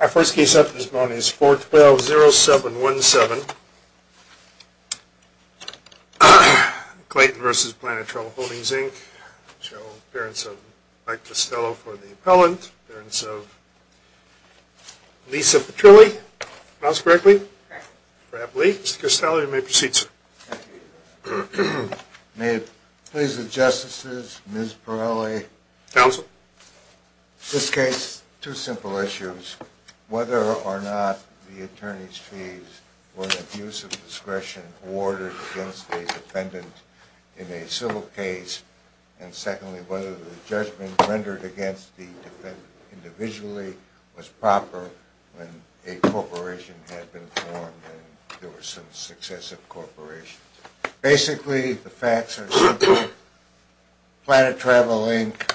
Our first case up this morning is 412-0717. Clayton v. Planet Travel Holdings, Inc. Show appearance of Mike Costello for the appellant. Appearance of Lisa Petrilli. Pronounce correctly. Perhaps Lee. Mr. Costello, you may proceed, sir. Thank you. May it please the Justices, Ms. Pirelli. Counsel. This case, two simple issues. Whether or not the attorney's fees were an abuse of discretion awarded against a defendant in a civil case. And secondly, whether the judgment rendered against the defendant individually was proper when a corporation had been formed and there were some successive corporations. Basically, the facts are simple. Planet Travel, Inc.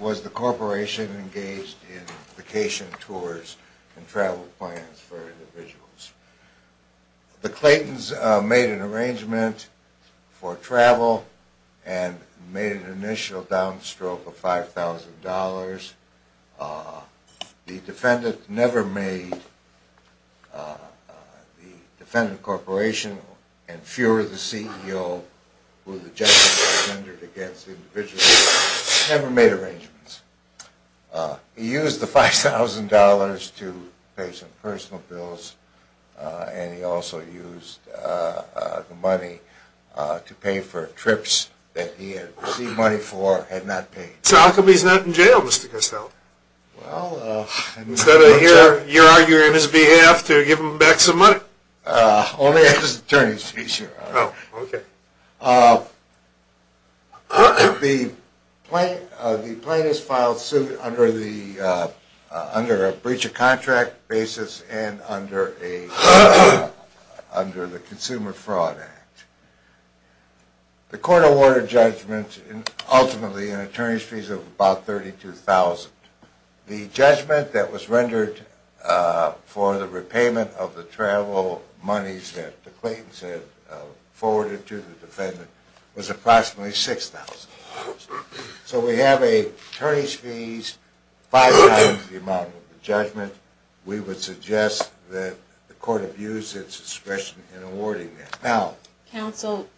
was the corporation engaged in vacation tours and travel plans for individuals. The Claytons made an arrangement for travel and made an initial downstroke of $5,000. The defendant never made the defendant corporation and fewer the CEO who the judgment was rendered against individually. Never made arrangements. He used the $5,000 to pay some personal bills and he also used the money to pay for trips that he had received money for and had not paid. So how come he's not in jail, Mr. Costello? Instead of your arguing on his behalf to give him back some money? Only after his attorney's fees are out. Oh, okay. The plaintiff's filed suit under a breach of contract basis and under the Consumer Fraud Act. The court awarded judgments ultimately in attorney's fees of about $32,000. The judgment that was rendered for the repayment of the travel monies that the Claytons had forwarded to the defendant was approximately $6,000. So we have an attorney's fees five times the amount of the judgment. We would suggest that the court abuse its discretion in awarding that. Counsel,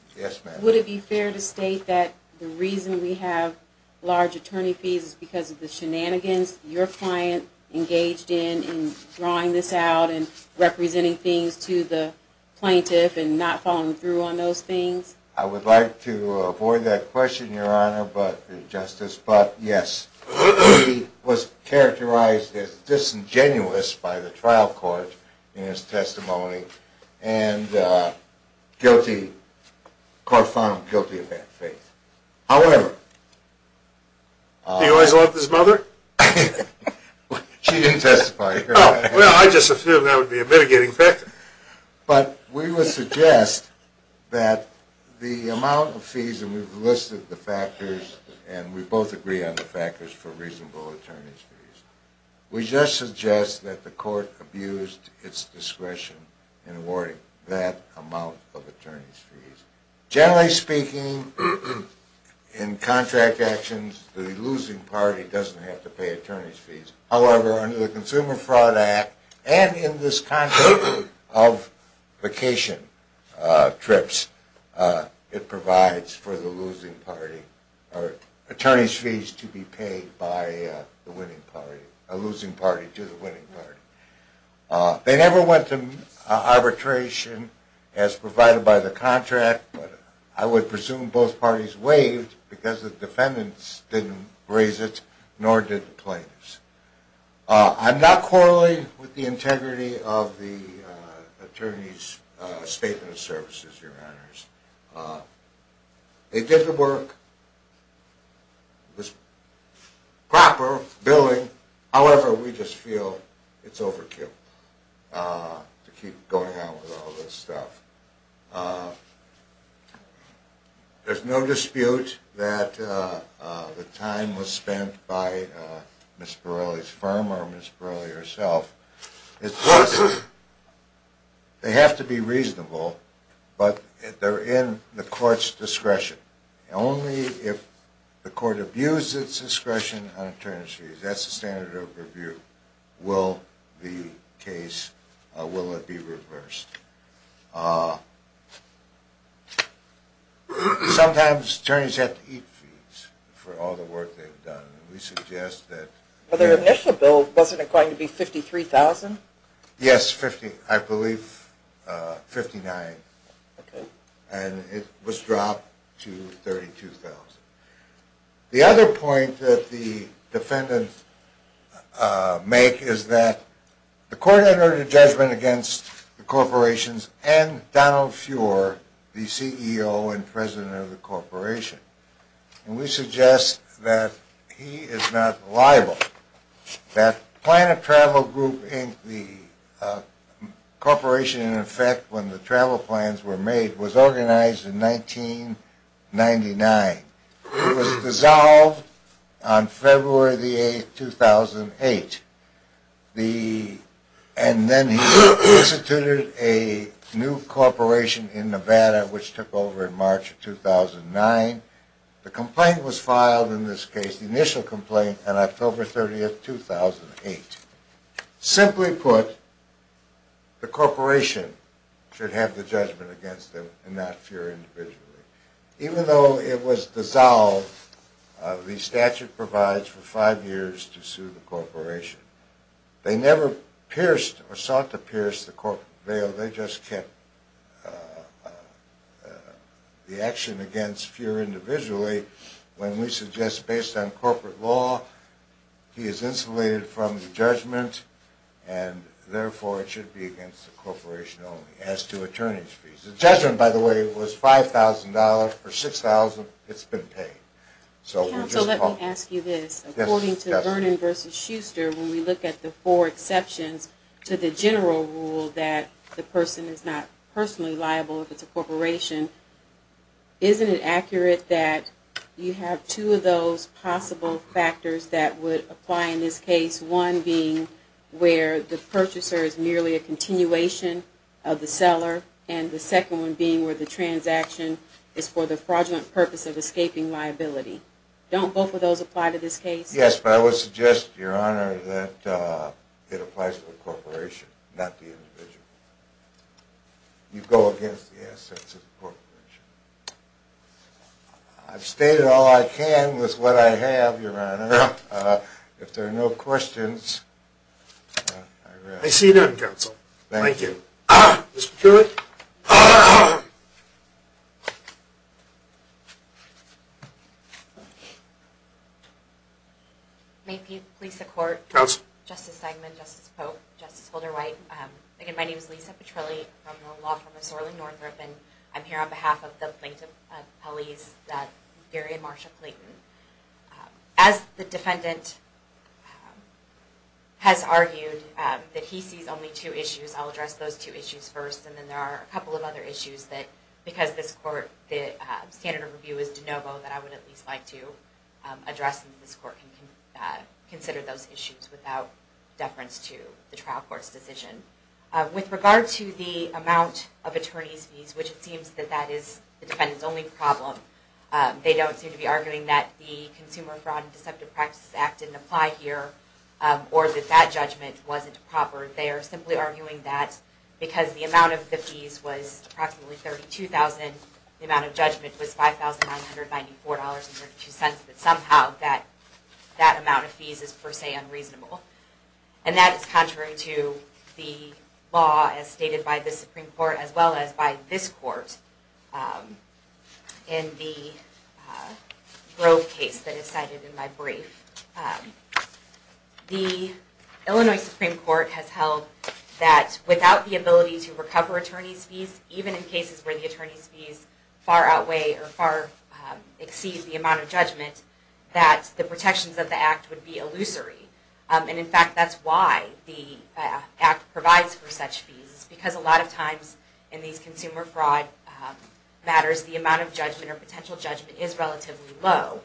would it be fair to state that the reason we have large attorney fees is because of the shenanigans your client engaged in, in drawing this out and representing things to the plaintiff and not following through on those things? I would like to avoid that question, Your Honor, but yes, he was characterized as disingenuous by the trial court in his testimony. And guilty, court found him guilty of that offense. However... He always loved his mother? She didn't testify, Your Honor. Well, I just assumed that would be a mitigating factor. But we would suggest that the amount of fees, and we've listed the factors, and we both agree on the factors for reasonable attorney's fees. We just suggest that the court abused its discretion in awarding that amount of attorney's fees. Generally speaking, in contract actions, the losing party doesn't have to pay attorney's fees. A losing party to the winning party. They never went to arbitration as provided by the contract, but I would presume both parties waived because the defendants didn't raise it, nor did the plaintiffs. I'm not quarreling with the integrity of the attorney's statement of services, Your Honors. They did the work. It was proper, billing, however, we just feel it's overkill to keep going on with all this stuff. There's no dispute that the time was spent by Ms. Borrelli's firm or Ms. Borrelli herself. It's just they have to be reasonable, but they're in the court's discretion. Only if the court abused its discretion on attorney's fees, that's the standard of review, will the case, will it be reversed. Sometimes attorneys have to eat fees for all the work they've done. We suggest that... The initial bill, wasn't it going to be $53,000? Yes, I believe $59,000, and it was dropped to $32,000. The other point that the defendants make is that the court had ordered a judgment against the corporations and Donald Fuhrer, the CEO and president of the corporation. And we suggest that he is not liable. That Plan of Travel Group Inc., the corporation in effect when the travel plans were made, was organized in 1999. It was dissolved on February the 8th, 2008. And then he instituted a new corporation in Nevada, which took over in March of 2009. The complaint was filed in this case, the initial complaint, on October 30th, 2008. Simply put, the corporation should have the judgment against him and not Fuhrer individually. Even though it was dissolved, the statute provides for five years to sue the corporation. They never pierced or sought to pierce the corporate veil, they just kept the action against Fuhrer individually. When we suggest, based on corporate law, he is insulated from the judgment, and therefore it should be against the corporation only, as to attorney's fees. The judgment, by the way, was $5,000, for $6,000 it's been paid. Let me ask you this. According to Vernon v. Schuster, when we look at the four exceptions to the general rule that the person is not personally liable if it's a corporation, isn't it accurate that you have two of those possible factors that would apply in this case, one being where the purchaser is merely a continuation of the seller, and the second one being where the transaction is for the fraudulent purpose of escaping liability? Don't both of those apply to this case? Yes, but I would suggest, your honor, that it applies to the corporation, not the individual. You go against the assets of the corporation. I've stated all I can with what I have, your honor. If there are no questions, I rest. I see none, counsel. Thank you. Ms. Petrilli? May it please the court. Counsel. Justice Stegman, Justice Polk, Justice Holder-White. Again, my name is Lisa Petrilli, from the law firm of Sorling Northrop, and I'm here on behalf of the plaintiff's appellees, Gary and Marsha Clayton. As the defendant has argued that he sees only two issues, I'll address those two issues first, and then there are a couple of other issues that, because this court, the standard of review is de novo, that I would at least like to address, and this court can consider those issues without deference to the trial court's decision. With regard to the amount of attorney's fees, which it seems that that is the defendant's only problem, they don't seem to be arguing that the Consumer Fraud and Deceptive Practices Act didn't apply here or that that judgment wasn't proper. They are simply arguing that because the amount of the fees was approximately $32,000, the amount of judgment was $5,994.32, that somehow that amount of fees is per se unreasonable. And that is contrary to the law as stated by the Supreme Court as well as by this court in the Grove case that is cited in my brief. The Illinois Supreme Court has held that without the ability to recover attorney's fees, even in cases where the attorney's fees far outweigh or far exceed the amount of judgment, that the protections of the Act would be illusory. And in fact, that's why the Act provides for such fees, because a lot of times in these consumer fraud matters, the amount of judgment or potential judgment is relatively low.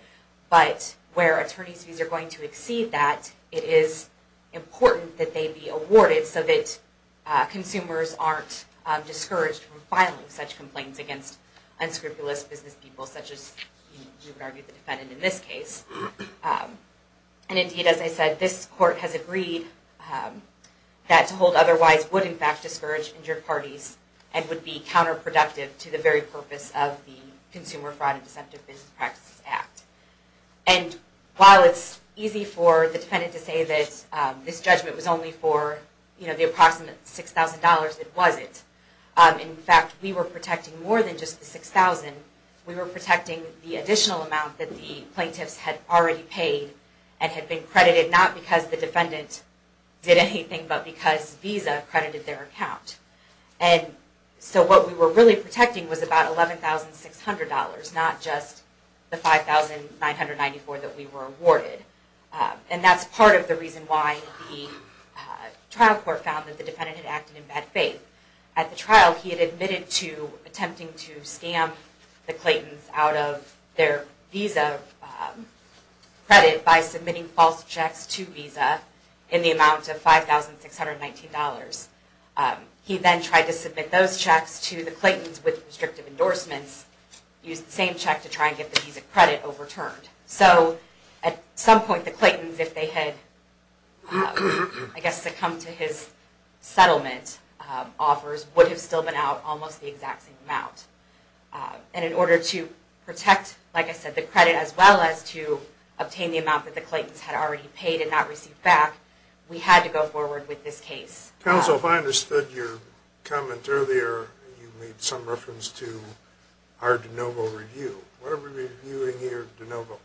But where attorney's fees are going to exceed that, it is important that they be awarded so that consumers aren't discouraged from filing such complaints against unscrupulous business people such as you would argue the defendant in this case. And indeed, as I said, this court has agreed that to hold otherwise would in fact discourage injured parties and would be counterproductive to the very purpose of the Consumer Fraud and Deceptive Business Practices Act. And while it's easy for the defendant to say that this judgment was only for the approximate $6,000, it wasn't. In fact, we were protecting more than just the $6,000. We were protecting the additional amount that the plaintiffs had already paid and had been credited not because the defendant did anything, but because Visa credited their account. And so what we were really protecting was about $11,600, not just the $5,994 that we were awarded. And that's part of the reason why the trial court found that the defendant had acted in bad faith. At the trial, he had admitted to attempting to scam the Claytons out of their Visa credit by submitting false checks to Visa in the amount of $5,619. He then tried to submit those checks to the Claytons with restrictive endorsements, used the same check to try and get the Visa credit overturned. So at some point, the Claytons, if they had, I guess, succumbed to his settlement offers, would have still been out almost the exact same amount. And in order to protect, like I said, the credit as well as to obtain the amount that the Claytons had already paid and not received back, we had to go forward with this case. Counsel, if I understood your comment earlier, you made some reference to our de novo review. What are we reviewing here, de novo?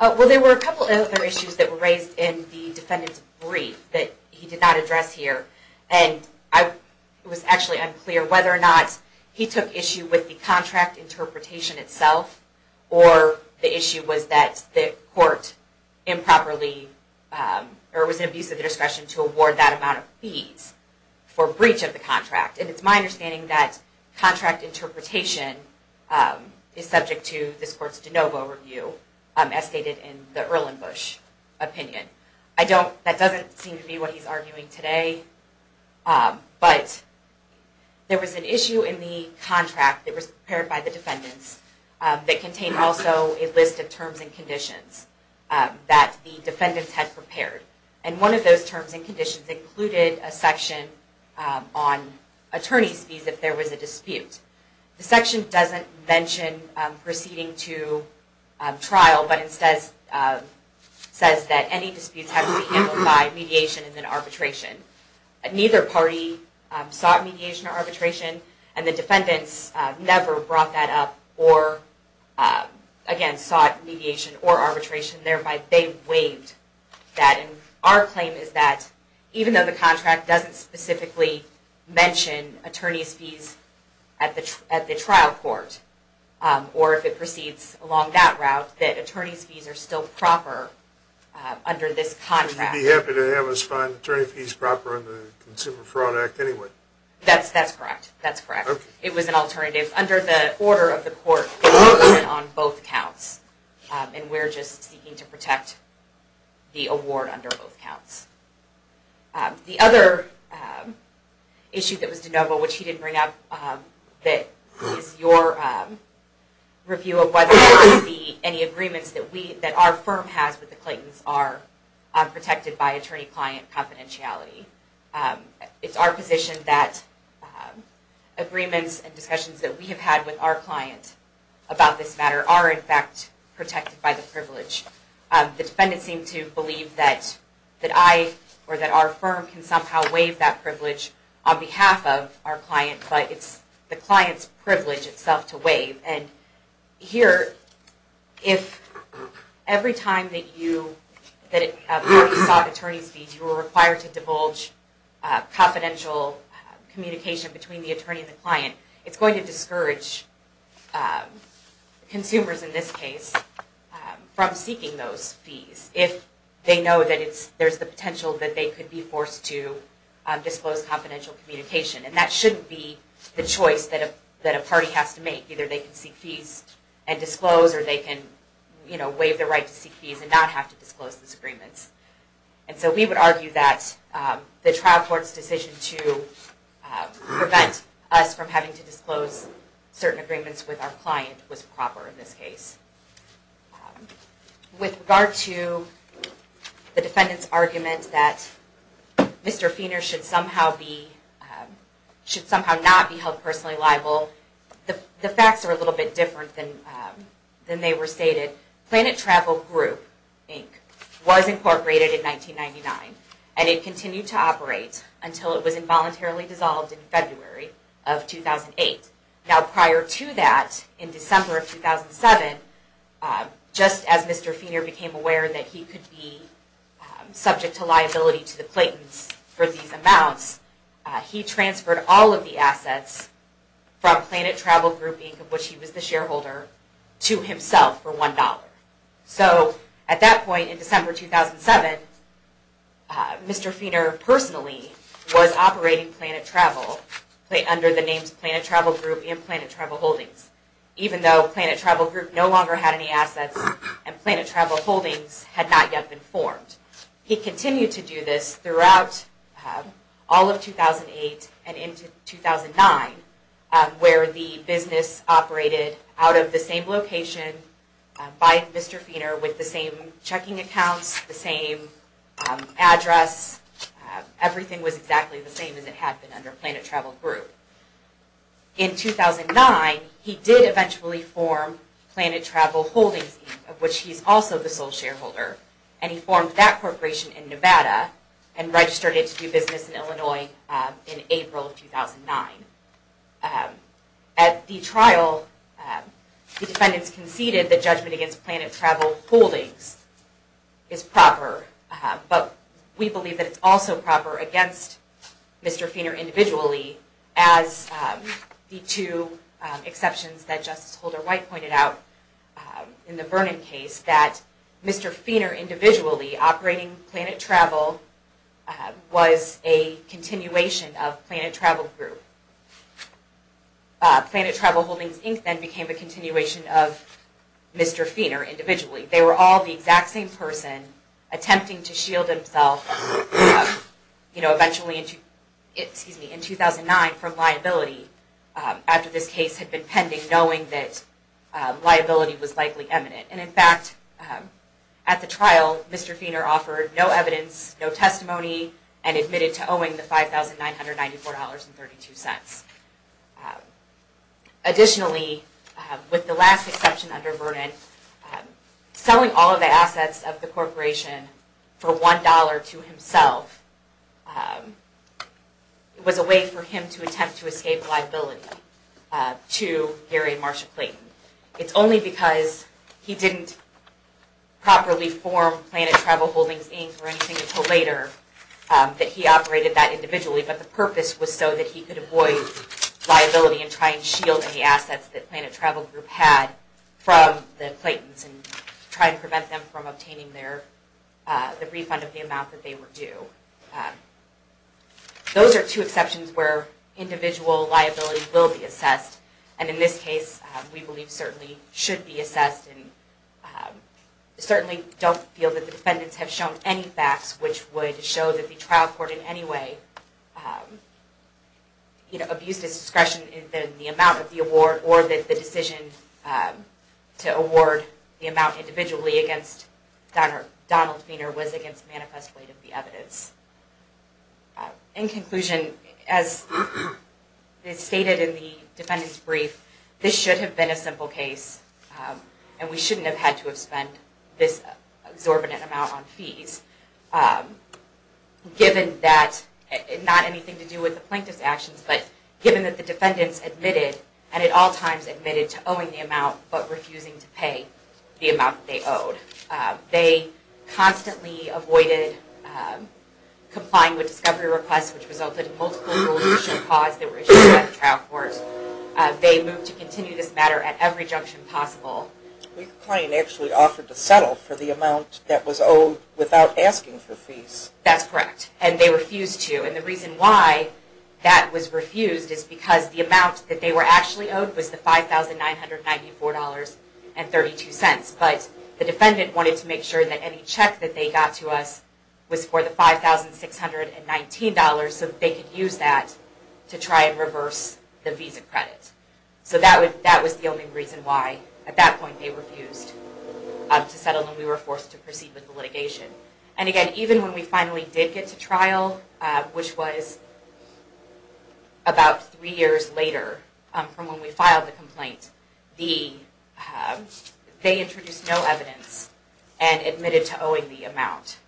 Well, there were a couple of other issues that were raised in the defendant's brief that he did not address here. And it was actually unclear whether or not he took issue with the contract interpretation itself or the issue was that the court improperly, or it was an abuse of the discretion, to award that amount of fees for breach of the contract. And it's my understanding that contract interpretation is subject to this court's de novo review, as stated in the Erlenbush opinion. That doesn't seem to be what he's arguing today. But there was an issue in the contract that was prepared by the defendants that contained also a list of terms and conditions that the defendants had prepared. And one of those terms and conditions included a section on attorney's fees if there was a dispute. The section doesn't mention proceeding to trial, but instead says that any disputes have to be handled by mediation and then arbitration. Neither party sought mediation or arbitration, and the defendants never brought that up or, again, sought mediation or arbitration. Thereby, they waived that. And our claim is that even though the contract doesn't specifically mention attorney's fees at the trial court, or if it proceeds along that route, that attorney's fees are still proper under this contract. You'd be happy to have us find attorney fees proper under the Consumer Fraud Act anyway. That's correct. That's correct. It was an alternative under the order of the court on both counts. And we're just seeking to protect the award under both counts. The other issue that was de novo, which he didn't bring up, that is your review of whether there would be any agreements that our firm has with the Claytons are protected by attorney-client confidentiality. It's our position that agreements and discussions that we have had with our client about this matter are, in fact, protected by the privilege. The defendants seem to believe that I or that our firm can somehow waive that privilege on behalf of our client, but it's the client's privilege itself to waive. And here, if every time that you sought attorney's fees, you were required to divulge confidential communication between the attorney and the client, it's going to discourage consumers in this case from seeking those fees if they know that there's the potential that they could be forced to disclose confidential communication. And that shouldn't be the choice that a party has to make. Either they can seek fees and disclose, or they can waive their right to seek fees and not have to disclose those agreements. And so we would argue that the trial court's decision to prevent us from having to disclose certain agreements with our client was proper in this case. With regard to the defendant's argument that Mr. Feener should somehow not be held personally liable, the facts are a little bit different than they were stated. Planet Travel Group Inc. was incorporated in 1999, and it continued to operate until it was involuntarily dissolved in February of 2008. Now prior to that, in December of 2007, just as Mr. Feener became aware that he could be subject to liability to the Claytons for these amounts, he transferred all of the assets from Planet Travel Group Inc., of which he was the shareholder, to himself for $1. So at that point in December 2007, Mr. Feener personally was operating Planet Travel, under the names Planet Travel Group and Planet Travel Holdings, even though Planet Travel Group no longer had any assets, and Planet Travel Holdings had not yet been formed. He continued to do this throughout all of 2008 and into 2009, where the business operated out of the same location by Mr. Feener, with the same checking accounts, the same address, everything was exactly the same as it had been under Planet Travel Group. In 2009, he did eventually form Planet Travel Holdings, of which he is also the sole shareholder, and he formed that corporation in Nevada, and registered it to do business in Illinois in April 2009. At the trial, the defendants conceded that judgment against Planet Travel Holdings is proper, but we believe that it's also proper against Mr. Feener individually, as the two exceptions that Justice Holder White pointed out in the Vernon case, that Mr. Feener individually operating Planet Travel was a continuation of Planet Travel Group. Planet Travel Holdings Inc. then became a continuation of Mr. Feener individually. They were all the exact same person, attempting to shield himself, you know, eventually in 2009 from liability, after this case had been pending, knowing that liability was likely imminent. And in fact, at the trial, Mr. Feener offered no evidence, no testimony, and admitted to owing the $5,994.32. Additionally, with the last exception under Vernon, selling all of the assets of the corporation for $1 to himself, was a way for him to attempt to escape liability to Gary and Marsha Clayton. It's only because he didn't properly form Planet Travel Holdings Inc. or anything until later, that he operated that individually, but the purpose was so that he could avoid liability and try and shield any assets that Planet Travel Group had from the Claytons and try and prevent them from obtaining the refund of the amount that they were due. Those are two exceptions where individual liability will be assessed, and in this case, we believe certainly should be assessed, and certainly don't feel that the defendants have shown any facts which would show that the trial court in any way abused its discretion in the amount of the award or that the decision to award the amount individually against Donald Feener was against manifest weight of the evidence. In conclusion, as stated in the defendant's brief, this should have been a simple case, and we shouldn't have had to have spent this exorbitant amount on fees, given that, not anything to do with the plaintiff's actions, but given that the defendants admitted, and at all times admitted to owing the amount, they constantly avoided complying with discovery requests, which resulted in multiple rules of judicial cause that were issued at the trial court. They moved to continue this matter at every junction possible. We claim they actually offered to settle for the amount that was owed without asking for fees. That's correct, and they refused to, and the reason why that was refused is because the amount that they were actually owed was the $5,994.32, but the defendant wanted to make sure that any check that they got to us was for the $5,619 so that they could use that to try and reverse the visa credit. So that was the only reason why at that point they refused to settle, and we were forced to proceed with the litigation. And again, even when we finally did get to trial, which was about three years later from when we filed the complaint, they introduced no evidence and admitted to owing the amount.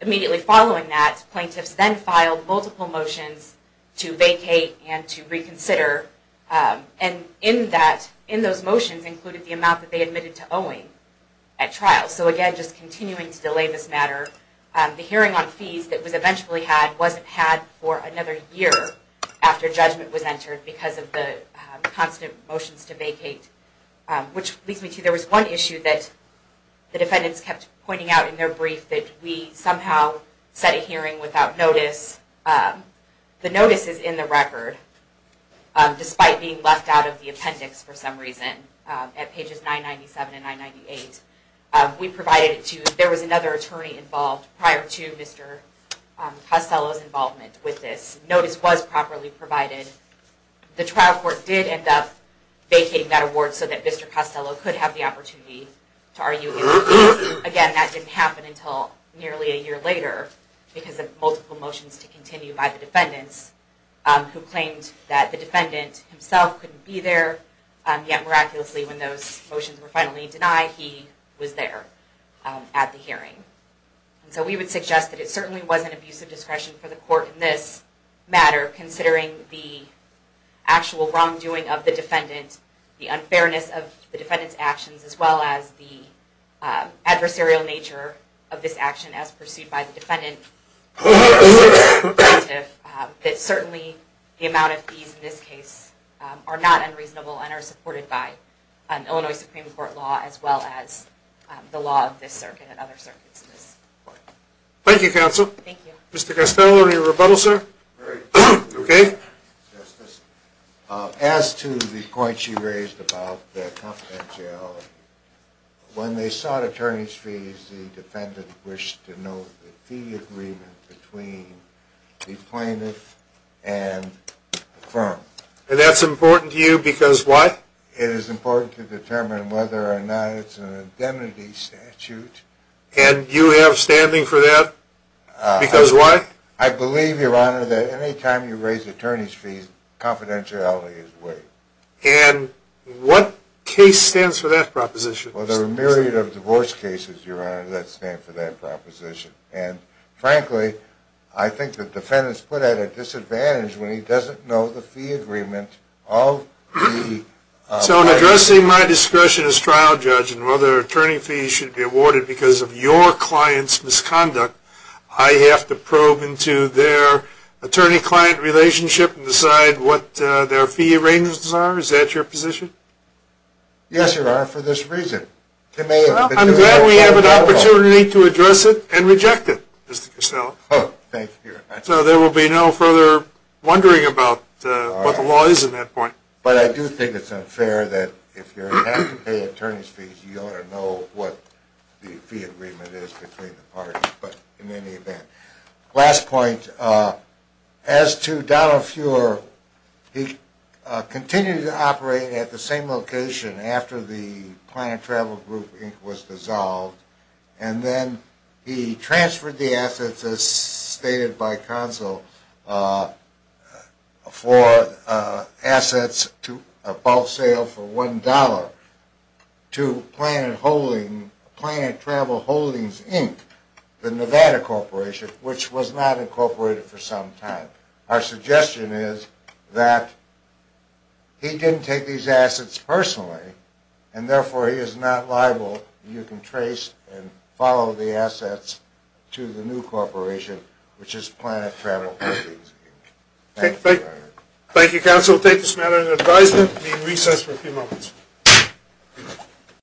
Immediately following that, plaintiffs then filed multiple motions to vacate and to reconsider, and in those motions included the amount that they admitted to owing at trial. So again, just continuing to delay this matter, the hearing on fees that was eventually had wasn't had for another year after judgment was entered because of the constant motions to vacate, which leads me to there was one issue that the defendants kept pointing out in their brief that we somehow set a hearing without notice. The notice is in the record, despite being left out of the appendix for some reason at pages 997 and 998. We provided it to, there was another attorney involved prior to Mr. Costello's involvement with this. Notice was properly provided. The trial court did end up vacating that award so that Mr. Costello could have the opportunity to argue. Again, that didn't happen until nearly a year later because of multiple motions to continue by the defendants who claimed that the defendant himself couldn't be there, yet miraculously when those motions were finally denied, he was there at the hearing. So we would suggest that it certainly wasn't abusive discretion for the court in this matter considering the actual wrongdoing of the defendant, the unfairness of the defendant's actions, as well as the adversarial nature of this action as pursued by the defendant. It's certainly the amount of fees in this case are not unreasonable and are supported by Illinois Supreme Court law as well as the law of this circuit and other circuits in this court. Thank you, counsel. Thank you. Mr. Costello, any rebuttal, sir? As to the point she raised about the confidentiality, when they sought attorney's fees, the defendant wished to know the fee agreement between the plaintiff and the firm. And that's important to you because what? It is important to determine whether or not it's an indemnity statute. And you have standing for that because what? I believe, Your Honor, that any time you raise attorney's fees, confidentiality is waived. And what case stands for that proposition, Mr. Costello? Well, there are a myriad of divorce cases, Your Honor, that stand for that proposition. And frankly, I think the defendant's put at a disadvantage when he doesn't know the fee agreement of the plaintiff. So in addressing my discretion as trial judge and whether attorney fees should be awarded because of your client's misconduct, I have to probe into their attorney-client relationship and decide what their fee arrangements are? Is that your position? Yes, Your Honor, for this reason. I'm glad we have an opportunity to address it and reject it, Mr. Costello. Oh, thank you, Your Honor. So there will be no further wondering about what the law is at that point. But I do think it's unfair that if you're having to pay attorney's fees, you ought to know what the fee agreement is between the parties. Last point. As to Donald Fuhrer, he continued to operate at the same location after the Planet Travel Group Inc. was dissolved. And then he transferred the assets, as stated by Consul, for assets above sale for $1 to Planet Travel Holdings Inc. The Nevada Corporation, which was not incorporated for some time. Our suggestion is that he didn't take these assets personally, and therefore he is not liable. You can trace and follow the assets to the new corporation, which is Planet Travel Holdings Inc. Thank you, Your Honor. Thank you, Counsel. We'll take this matter into advisement and be in recess for a few moments.